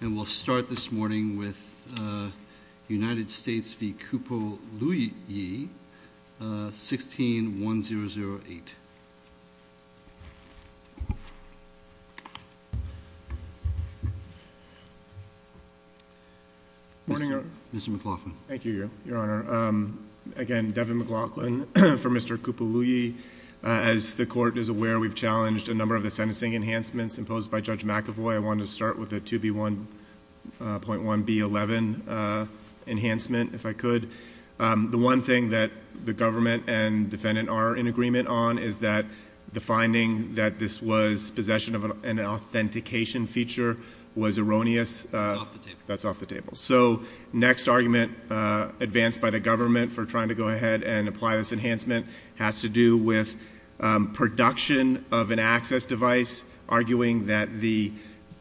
And we'll start this morning with United States v. Kupaluyi, 16-1008. Morning, Your Honor. Mr. McLaughlin. Thank you, Your Honor. Again, Devin McLaughlin for Mr. Kupaluyi. As the Court is aware, we've challenged a number of the sentencing enhancements imposed by Judge McAvoy. I wanted to start with the 2B1.1B11 enhancement, if I could. The one thing that the government and defendant are in agreement on is that the finding that this was possession of an authentication feature was erroneous. That's off the table. So next argument advanced by the government for trying to go ahead and apply this enhancement has to do with production of an access device, arguing that the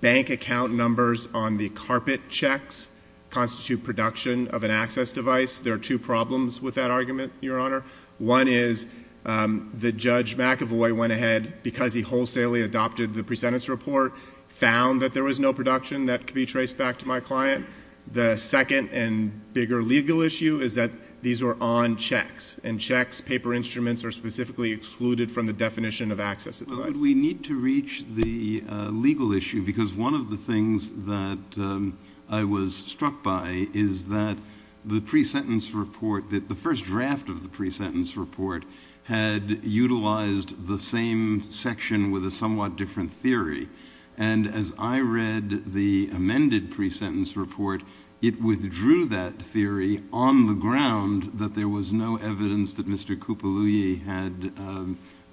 bank account numbers on the carpet checks constitute production of an access device. There are two problems with that argument, Your Honor. One is that Judge McAvoy went ahead, because he wholesalely adopted the pre-sentence report, found that there was no production that could be traced back to my client. The second and bigger legal issue is that these were on checks, and checks, paper instruments, are specifically excluded from the definition of access device. But we need to reach the legal issue, because one of the things that I was struck by is that the pre-sentence report, that the first draft of the pre-sentence report had utilized the same section with a somewhat different theory. And as I read the amended pre-sentence report, it withdrew that theory on the ground that there was no evidence that Mr. Kupaluye had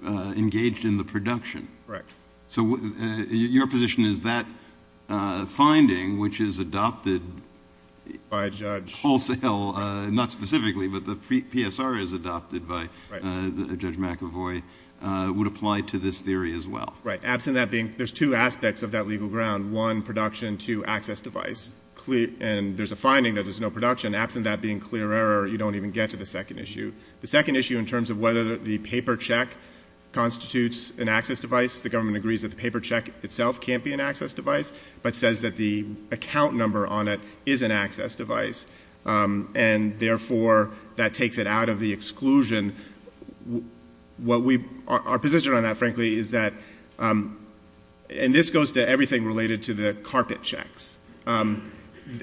engaged in the production. Correct. So your position is that finding, which is adopted wholesale, not specifically, but the PSR is adopted by Judge McAvoy, would apply to this theory as well. Right. Absent that being, there's two aspects of that legal ground. One, production. Two, access device. And there's a finding that there's no production. Absent that being clear error, you don't even get to the second issue. The second issue in terms of whether the paper check constitutes an access device, the government agrees that the paper check itself can't be an access device, but says that the account number on it is an access device. And therefore, that takes it out of the exclusion. Our position on that, frankly, is that, and this goes to everything related to the carpet checks,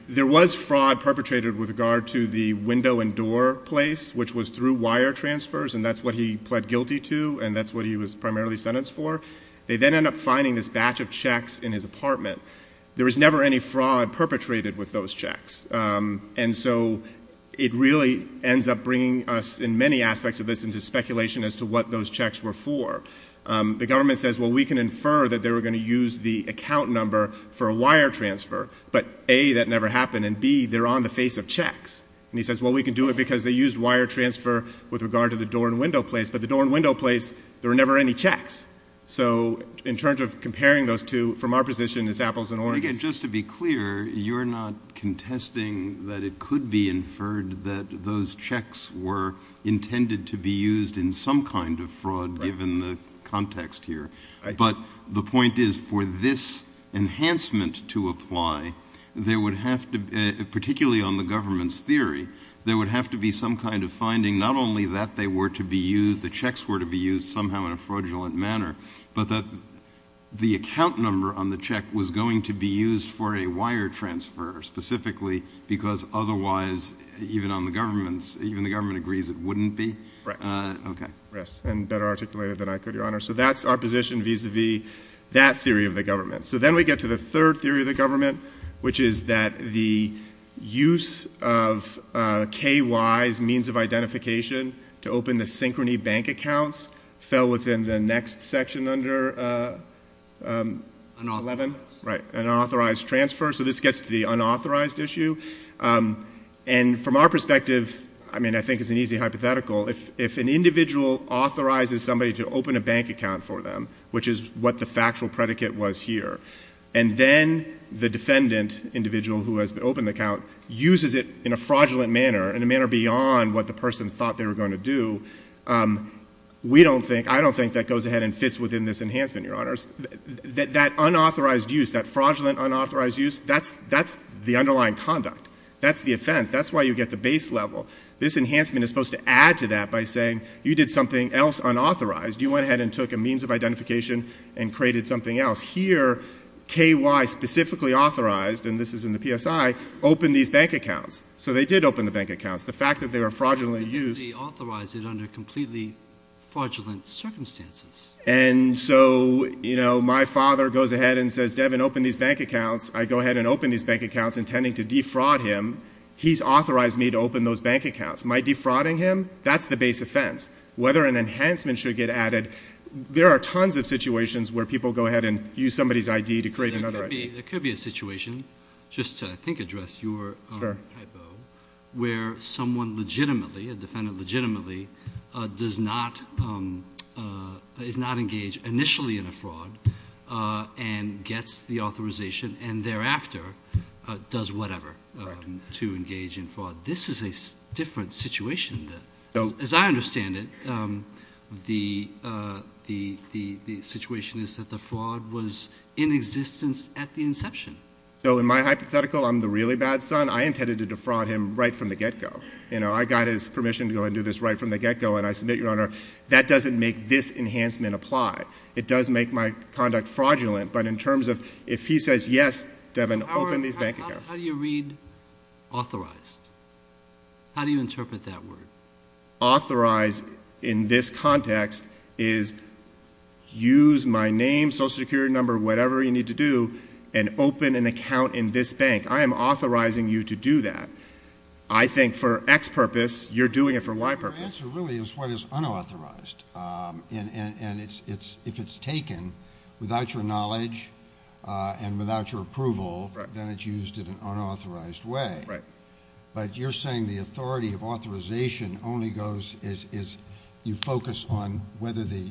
there was fraud perpetrated with regard to the window and door place, which was through wire transfers, and that's what he pled guilty to, and that's what he was primarily sentenced for. They then end up finding this batch of checks in his apartment. There was never any fraud perpetrated with those checks. And so it really ends up bringing us in many aspects of this into speculation as to what those checks were for. The government says, well, we can infer that they were going to use the account number for a wire transfer, but, A, that never happened, and, B, they're on the face of checks. And he says, well, we can do it because they used wire transfer with regard to the door and window place, but the door and window place, there were never any checks. So in terms of comparing those two, from our position, it's apples and oranges. And, again, just to be clear, you're not contesting that it could be inferred that those checks were intended to be used in some kind of fraud, given the context here, but the point is for this enhancement to apply, there would have to, particularly on the government's theory, there would have to be some kind of finding, not only that they were to be used, the checks were to be used somehow in a fraudulent manner, but that the account number on the check was going to be used for a wire transfer, specifically because otherwise, even on the government's, even the government agrees it wouldn't be. Right. Okay. Yes, and better articulated than I could, Your Honor. So that's our position vis-a-vis that theory of the government. So then we get to the third theory of the government, which is that the use of KY's means of identification to open the synchrony bank accounts fell within the next section under 11. Right. An unauthorized transfer. So this gets to the unauthorized issue. And from our perspective, I mean, I think it's an easy hypothetical. If an individual authorizes somebody to open a bank account for them, which is what the factual predicate was here, and then the defendant individual who has opened the account uses it in a fraudulent manner, in a manner beyond what the person thought they were going to do, we don't think, I don't think that goes ahead and fits within this enhancement, Your Honors. That unauthorized use, that fraudulent unauthorized use, that's the underlying conduct. That's the offense. That's why you get the base level. This enhancement is supposed to add to that by saying you did something else unauthorized. You went ahead and took a means of identification and created something else. Here, KY specifically authorized, and this is in the PSI, open these bank accounts. So they did open the bank accounts. The fact that they were fraudulently used. They authorized it under completely fraudulent circumstances. And so, you know, my father goes ahead and says, Devin, open these bank accounts. I go ahead and open these bank accounts intending to defraud him. He's authorized me to open those bank accounts. My defrauding him, that's the base offense. Whether an enhancement should get added, there are tons of situations where people go ahead and use somebody's ID to create another ID. There could be a situation, just to I think address your hypo, where someone legitimately, a defendant legitimately, does not engage initially in a fraud and gets the authorization and thereafter does whatever to engage in fraud. This is a different situation. As I understand it, the situation is that the fraud was in existence at the inception. So in my hypothetical, I'm the really bad son. I intended to defraud him right from the get-go. You know, I got his permission to go ahead and do this right from the get-go. And I submit, Your Honor, that doesn't make this enhancement apply. It does make my conduct fraudulent. But in terms of if he says yes, Devin, open these bank accounts. How do you read authorized? How do you interpret that word? Authorized in this context is use my name, social security number, whatever you need to do, and open an account in this bank. I am authorizing you to do that. I think for X purpose, you're doing it for Y purpose. Your answer really is what is unauthorized. And if it's taken without your knowledge and without your approval, then it's used in an unauthorized way. Right. But you're saying the authority of authorization only goes as you focus on whether the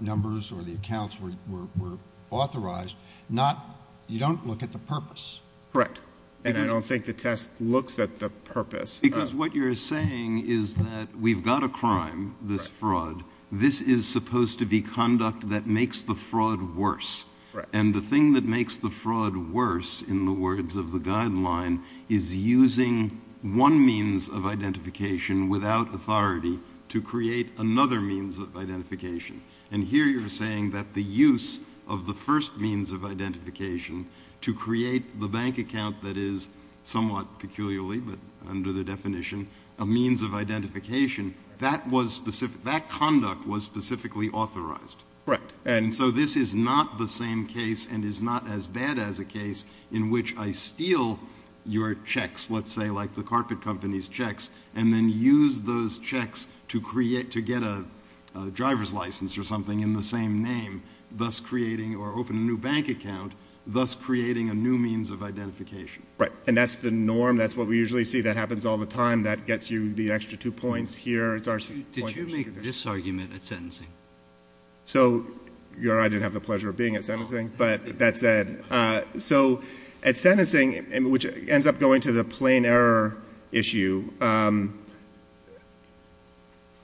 numbers or the accounts were authorized. You don't look at the purpose. Correct. And I don't think the test looks at the purpose. Because what you're saying is that we've got a crime, this fraud. This is supposed to be conduct that makes the fraud worse. Right. And the thing that makes the fraud worse, in the words of the guideline, is using one means of identification without authority to create another means of identification. And here you're saying that the use of the first means of identification to create the bank account that is somewhat peculiarly, but under the definition, a means of identification, that conduct was specifically authorized. Right. And so this is not the same case and is not as bad as a case in which I steal your checks, let's say, like the carpet company's checks, and then use those checks to get a driver's license or something in the same name, thus creating or open a new bank account, thus creating a new means of identification. Right. And that's the norm. That's what we usually see. That happens all the time. That gets you the extra two points here. Did you make this argument at sentencing? I didn't have the pleasure of being at sentencing, but that said. So at sentencing, which ends up going to the plain error issue,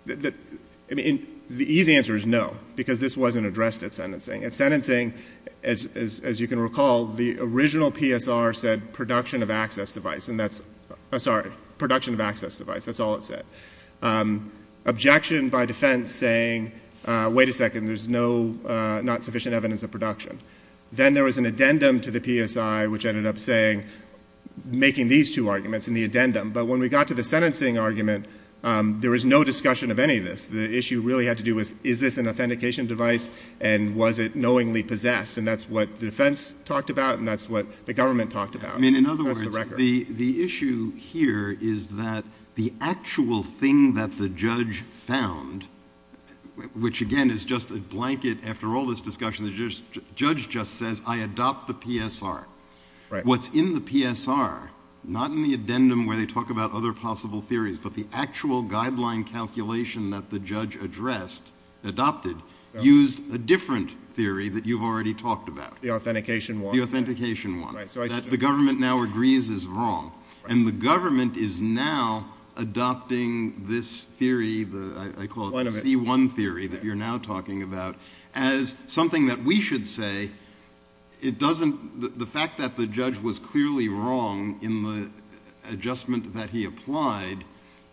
the easy answer is no, because this wasn't addressed at sentencing. At sentencing, as you can recall, the original PSR said production of access device, and that's all it said. Objection by defense saying, wait a second, there's not sufficient evidence of production. Then there was an addendum to the PSI, which ended up saying, making these two arguments in the addendum. But when we got to the sentencing argument, there was no discussion of any of this. The issue really had to do with is this an authentication device and was it knowingly possessed, and that's what the defense talked about and that's what the government talked about. I mean, in other words, the issue here is that the actual thing that the judge found, which again is just a blanket after all this discussion, the judge just says, I adopt the PSR. What's in the PSR, not in the addendum where they talk about other possible theories, but the actual guideline calculation that the judge addressed, adopted, used a different theory that you've already talked about. The authentication one. The authentication one. That the government now agrees is wrong. And the government is now adopting this theory, I call it the C1 theory that you're now talking about, as something that we should say, the fact that the judge was clearly wrong in the adjustment that he applied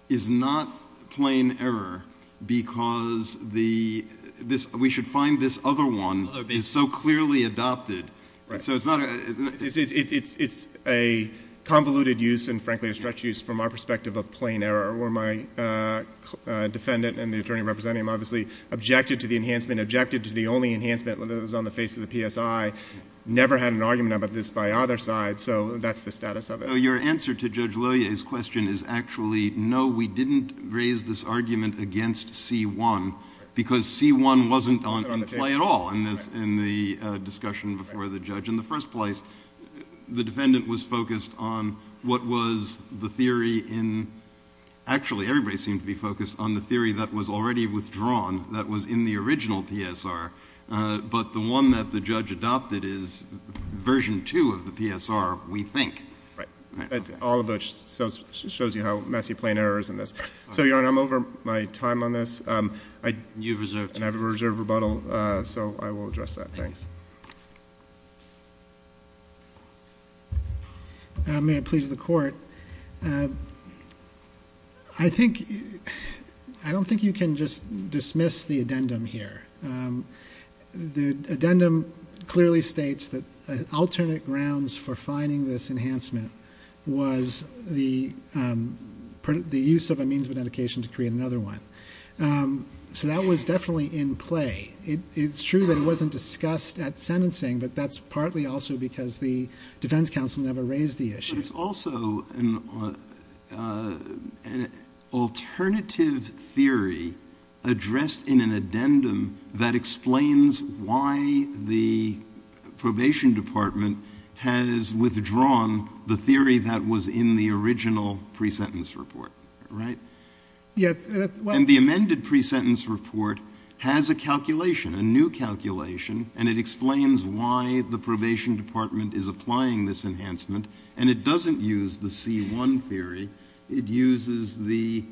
is not plain error because we should find this other one is so clearly adopted. It's a convoluted use and frankly a stretch use from our perspective of plain error where my defendant and the attorney representing him obviously objected to the enhancement, objected to the only enhancement that was on the face of the PSI, never had an argument about this by either side, so that's the status of it. Your answer to Judge Lillier's question is actually no, we didn't raise this argument against C1 because C1 wasn't in play at all in the discussion before the judge. In the first place, the defendant was focused on what was the theory in, actually everybody seemed to be focused on the theory that was already withdrawn, that was in the original PSR, but the one that the judge adopted is version 2 of the PSR, we think. All of it shows you how messy plain error is in this. Your Honor, I'm over my time on this and I have a reserve rebuttal, so I will address that. Thanks. May I please the court? I don't think you can just dismiss the addendum here. The addendum clearly states that alternate grounds for finding this enhancement was the use of a means of medication to create another one, so that was definitely in play. It's true that it wasn't discussed at sentencing, but that's partly also because the defense counsel never raised the issue. But it's also an alternative theory addressed in an addendum that explains why the probation department has withdrawn the theory that was in the original pre-sentence report, right? Yes. And the amended pre-sentence report has a calculation, a new calculation, and it explains why the probation department is applying this enhancement, and it doesn't use the C1 theory. It uses the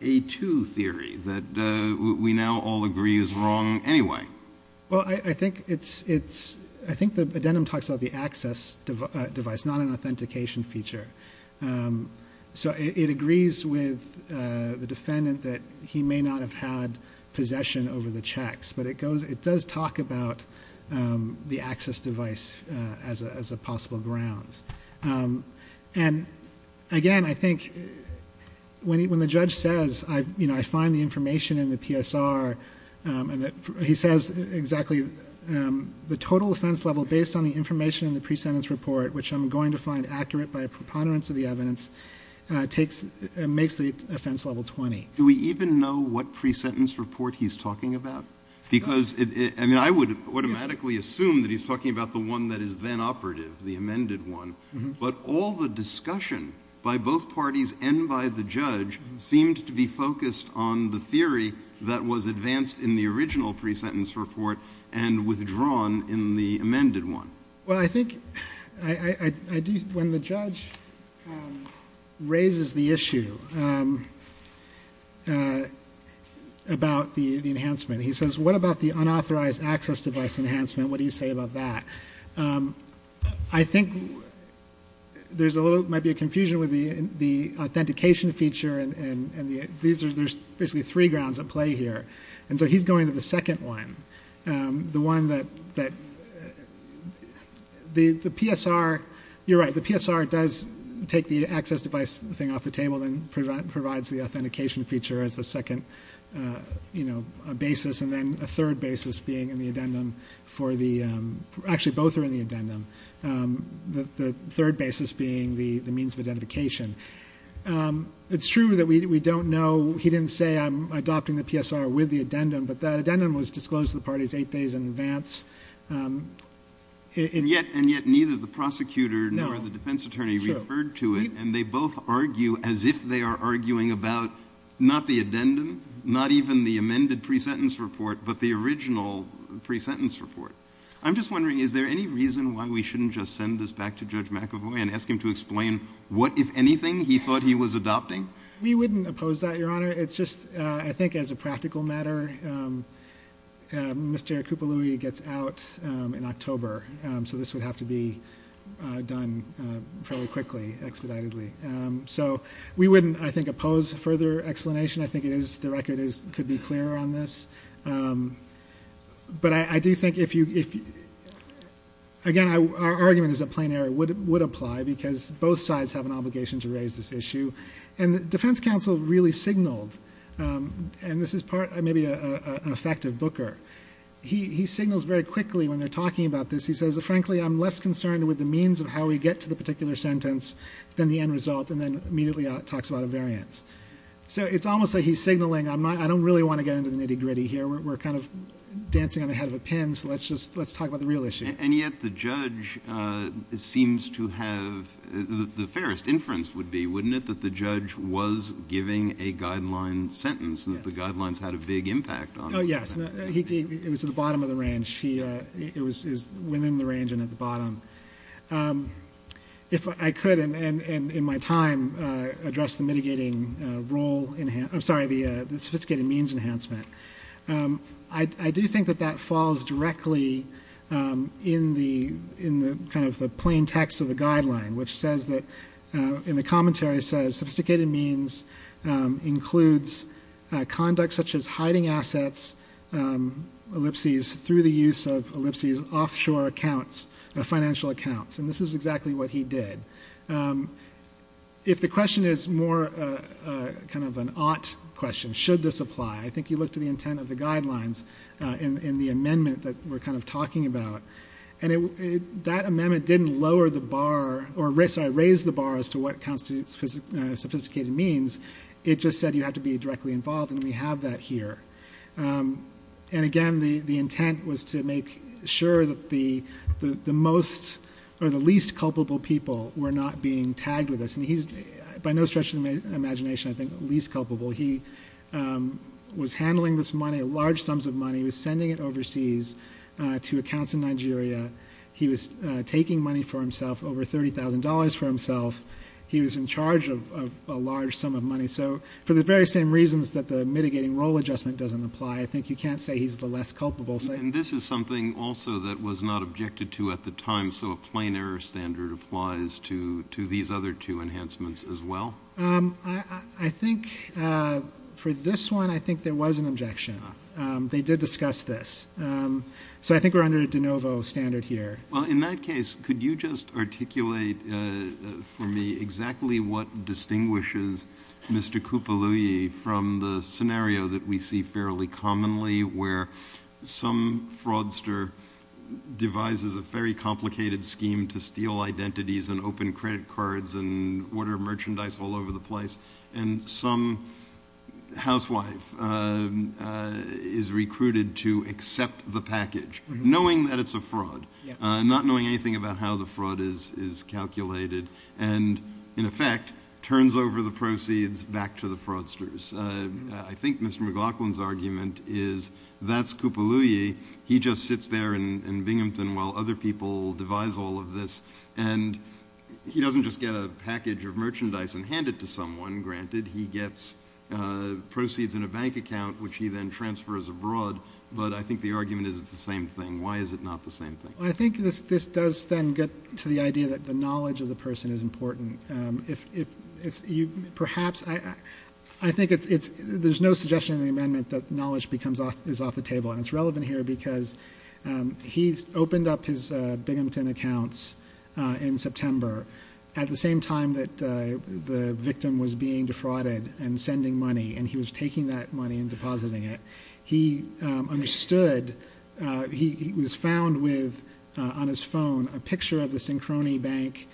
A2 theory that we now all agree is wrong anyway. Well, I think the addendum talks about the access device, not an authentication feature. So it agrees with the defendant that he may not have had possession over the checks, but it does talk about the access device as a possible grounds. And again, I think when the judge says, you know, I find the information in the PSR, he says exactly the total offense level based on the information in the pre-sentence report, which I'm going to find accurate by a preponderance of the evidence, makes the offense level 20. Do we even know what pre-sentence report he's talking about? Because I would automatically assume that he's talking about the one that is then operative, the amended one, but all the discussion by both parties and by the judge seemed to be focused on the theory that was advanced in the original pre-sentence report and withdrawn in the amended one. Well, I think when the judge raises the issue about the enhancement, he says, what about the unauthorized access device enhancement? What do you say about that? I think there might be a confusion with the authentication feature and there's basically three grounds at play here. And so he's going to the second one, the one that the PSR, you're right, the PSR does take the access device thing off the table and provides the authentication feature as the second basis and then a third basis being in the addendum for the, actually both are in the addendum, the third basis being the means of identification. It's true that we don't know, he didn't say I'm adopting the PSR with the addendum, but that addendum was disclosed to the parties eight days in advance. And yet neither the prosecutor nor the defense attorney referred to it and they both argue as if they are arguing about not the addendum, not even the amended pre-sentence report, but the original pre-sentence report. I'm just wondering, is there any reason why we shouldn't just send this back to Judge McAvoy and ask him to explain what, if anything, he thought he was adopting? We wouldn't oppose that, Your Honor. It's just, I think as a practical matter, Mr. Kupaluye gets out in October, so this would have to be done fairly quickly, expeditedly. So we wouldn't, I think, oppose further explanation. I think the record could be clearer on this. But I do think, again, our argument is that plain error would apply because both sides have an obligation to raise this issue. And the defense counsel really signaled, and this is maybe an effect of Booker, he signals very quickly when they're talking about this, he says, frankly, I'm less concerned with the means of how we get to the particular sentence than the end result, and then immediately talks about a variance. So it's almost like he's signaling, I don't really want to get into the nitty-gritty here. We're kind of dancing on the head of a pin, so let's talk about the real issue. And yet the judge seems to have, the fairest inference would be, wouldn't it, that the judge was giving a guideline sentence and that the guidelines had a big impact on it? Oh, yes. It was at the bottom of the range. It was within the range and at the bottom. If I could, and in my time, address the mitigating role, I'm sorry, the sophisticated means enhancement, I do think that that falls directly in the kind of the plain text of the guideline, which says that, in the commentary, it says, sophisticated means includes conduct such as hiding assets, ellipses, through the use of ellipses, offshore accounts, financial accounts. And this is exactly what he did. If the question is more kind of an ought question, should this apply, I think you look to the intent of the guidelines in the amendment that we're kind of talking about. And that amendment didn't raise the bar as to what sophisticated means. It just said you have to be directly involved, and we have that here. And, again, the intent was to make sure that the most or the least culpable people were not being tagged with this. And he's, by no stretch of the imagination, I think, least culpable. He was handling this money, large sums of money. He was sending it overseas to accounts in Nigeria. He was taking money for himself, over $30,000 for himself. He was in charge of a large sum of money. So for the very same reasons that the mitigating role adjustment doesn't apply, I think you can't say he's the less culpable. And this is something also that was not objected to at the time, so a plain error standard applies to these other two enhancements as well? I think for this one, I think there was an objection. They did discuss this. So I think we're under a de novo standard here. Well, in that case, could you just articulate for me exactly what distinguishes Mr. Kupaluye from the scenario that we see fairly commonly where some fraudster devises a very complicated scheme to steal identities and open credit cards and order merchandise all over the place, and some housewife is recruited to accept the package, knowing that it's a fraud, not knowing anything about how the fraud is calculated, and in effect turns over the proceeds back to the fraudsters. I think Mr. McLaughlin's argument is that's Kupaluye. He just sits there in Binghamton while other people devise all of this, and he doesn't just get a package of merchandise and hand it to someone. Granted, he gets proceeds in a bank account, which he then transfers abroad, but I think the argument is it's the same thing. Why is it not the same thing? I think this does then get to the idea that the knowledge of the person is important. Perhaps I think there's no suggestion in the amendment that knowledge is off the table, and it's relevant here because he's opened up his Binghamton accounts in September at the same time that the victim was being defrauded and sending money, and he was taking that money and depositing it. He understood he was found with, on his phone, a picture of the Synchrony Bank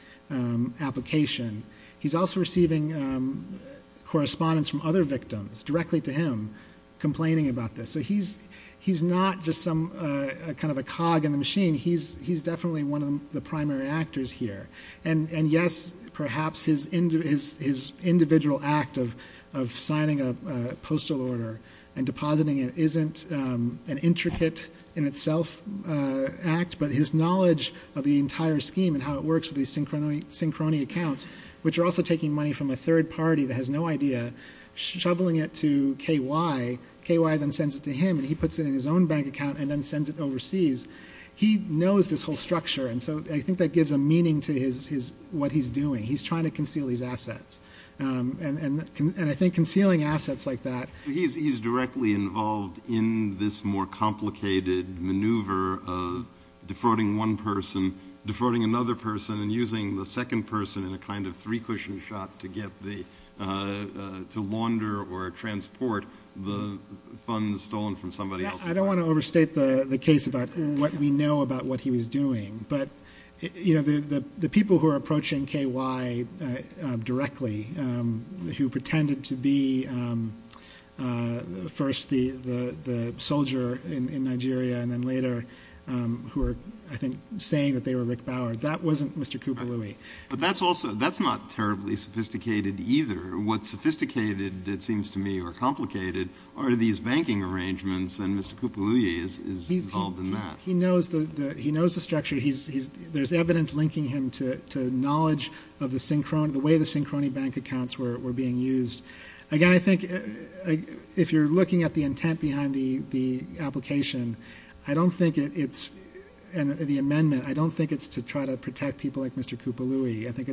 application. He's also receiving correspondence from other victims directly to him complaining about this. So he's not just some kind of a cog in the machine. He's definitely one of the primary actors here. And, yes, perhaps his individual act of signing a postal order and depositing it isn't an intricate in itself act, but his knowledge of the entire scheme and how it works with these Synchrony accounts, which are also taking money from a third party that has no idea, shoveling it to KY, KY then sends it to him, and he puts it in his own bank account and then sends it overseas. He knows this whole structure, and so I think that gives a meaning to what he's doing. He's trying to conceal his assets. And I think concealing assets like that... He's directly involved in this more complicated maneuver of defrauding one person, defrauding another person, and using the second person in a kind of three-cushion shot to launder or transport the funds stolen from somebody else. I don't want to overstate the case about what we know about what he was doing, but the people who are approaching KY directly, who pretended to be first the soldier in Nigeria and then later who were, I think, saying that they were Rick Bauer, that wasn't Mr. Koubaloui. But that's not terribly sophisticated either. What's sophisticated, it seems to me, or complicated are these banking arrangements and Mr. Koubaloui is involved in that. He knows the structure. There's evidence linking him to knowledge of the way the Sincroni bank accounts were being used. Again, I think if you're looking at the intent behind the application, I don't think it's the amendment. I don't think it's to try to protect people like Mr. Koubaloui. I think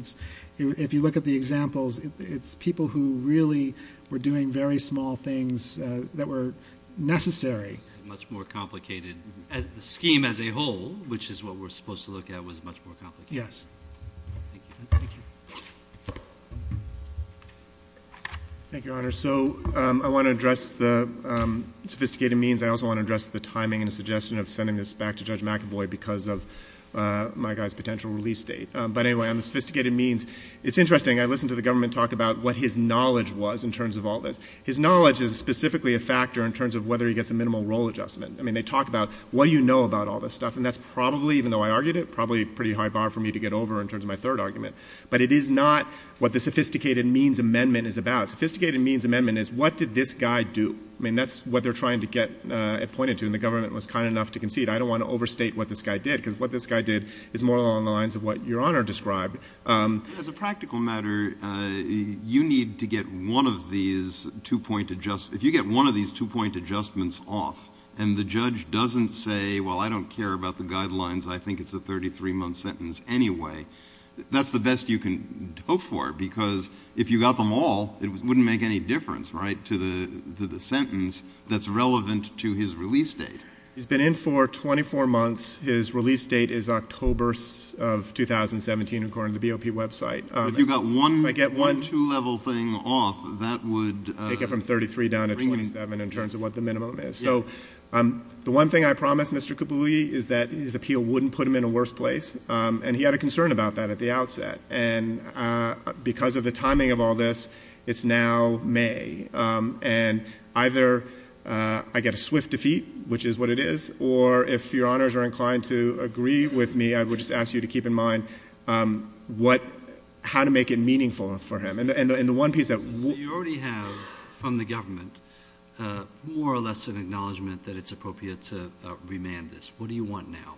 if you look at the examples, it's people who really were doing very small things that were necessary. Much more complicated. The scheme as a whole, which is what we're supposed to look at, was much more complicated. Yes. Thank you. Thank you, Your Honor. So I want to address the sophisticated means. I also want to address the timing and the suggestion of sending this back to Judge McAvoy because of my guy's potential release date. But anyway, on the sophisticated means, it's interesting. I listened to the government talk about what his knowledge was in terms of all this. His knowledge is specifically a factor in terms of whether he gets a minimal role adjustment. I mean, they talk about what do you know about all this stuff, and that's probably, even though I argued it, probably a pretty high bar for me to get over in terms of my third argument. But it is not what the sophisticated means amendment is about. Sophisticated means amendment is what did this guy do? I mean, that's what they're trying to get it pointed to, and the government was kind enough to concede. I don't want to overstate what this guy did because what this guy did is more along the lines of what Your Honor described. As a practical matter, you need to get one of these two-point adjustments. If you get one of these two-point adjustments off and the judge doesn't say, well, I don't care about the guidelines, I think it's a 33-month sentence anyway, that's the best you can hope for because if you got them all, it wouldn't make any difference, right, to the sentence that's relevant to his release date. He's been in for 24 months. His release date is October of 2017, according to the BOP website. If you got one two-level thing off, that would bring him down. Take it from 33 down to 27 in terms of what the minimum is. So the one thing I promised Mr. Kibouli is that his appeal wouldn't put him in a worse place, and he had a concern about that at the outset. And because of the timing of all this, it's now May. And either I get a swift defeat, which is what it is, or if Your Honors are inclined to agree with me, I would just ask you to keep in mind how to make it meaningful for him. And the one piece that we— You already have from the government more or less an acknowledgement that it's appropriate to remand this. What do you want now?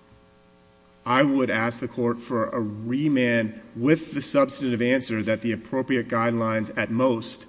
I would ask the court for a remand with the substantive answer that the appropriate guidelines at most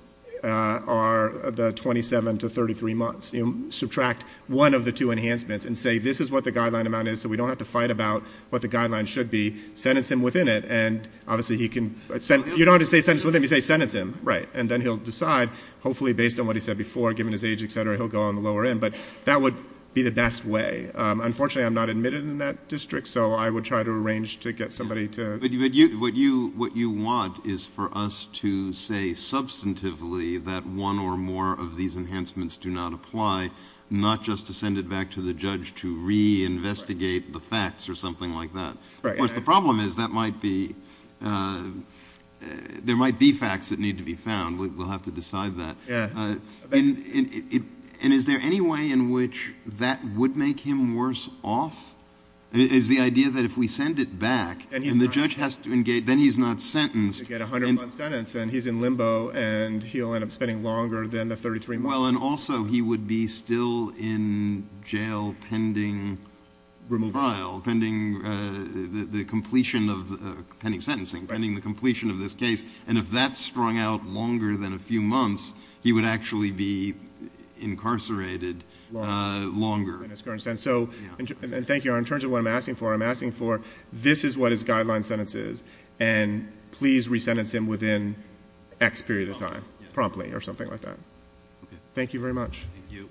are the 27 to 33 months. Subtract one of the two enhancements and say this is what the guideline amount is, so we don't have to fight about what the guideline should be. Sentence him within it, and obviously he can— You don't have to say sentence within it. You say sentence him, right, and then he'll decide. Hopefully, based on what he said before, given his age, et cetera, he'll go on the lower end. But that would be the best way. Unfortunately, I'm not admitted in that district, so I would try to arrange to get somebody to— But what you want is for us to say substantively that one or more of these enhancements do not apply, not just to send it back to the judge to reinvestigate the facts or something like that. Of course, the problem is that might be—there might be facts that need to be found. We'll have to decide that. And is there any way in which that would make him worse off? Is the idea that if we send it back and the judge has to engage—then he's not sentenced. You get a 100-month sentence, and he's in limbo, and he'll end up spending longer than the 33 months. Well, and also he would be still in jail pending— Removal. Pending the completion of—pending sentencing, pending the completion of this case. And if that's strung out longer than a few months, he would actually be incarcerated longer. So, and thank you. In terms of what I'm asking for, I'm asking for this is what his guideline sentence is, and please resentence him within X period of time promptly or something like that. Thank you very much. Thank you.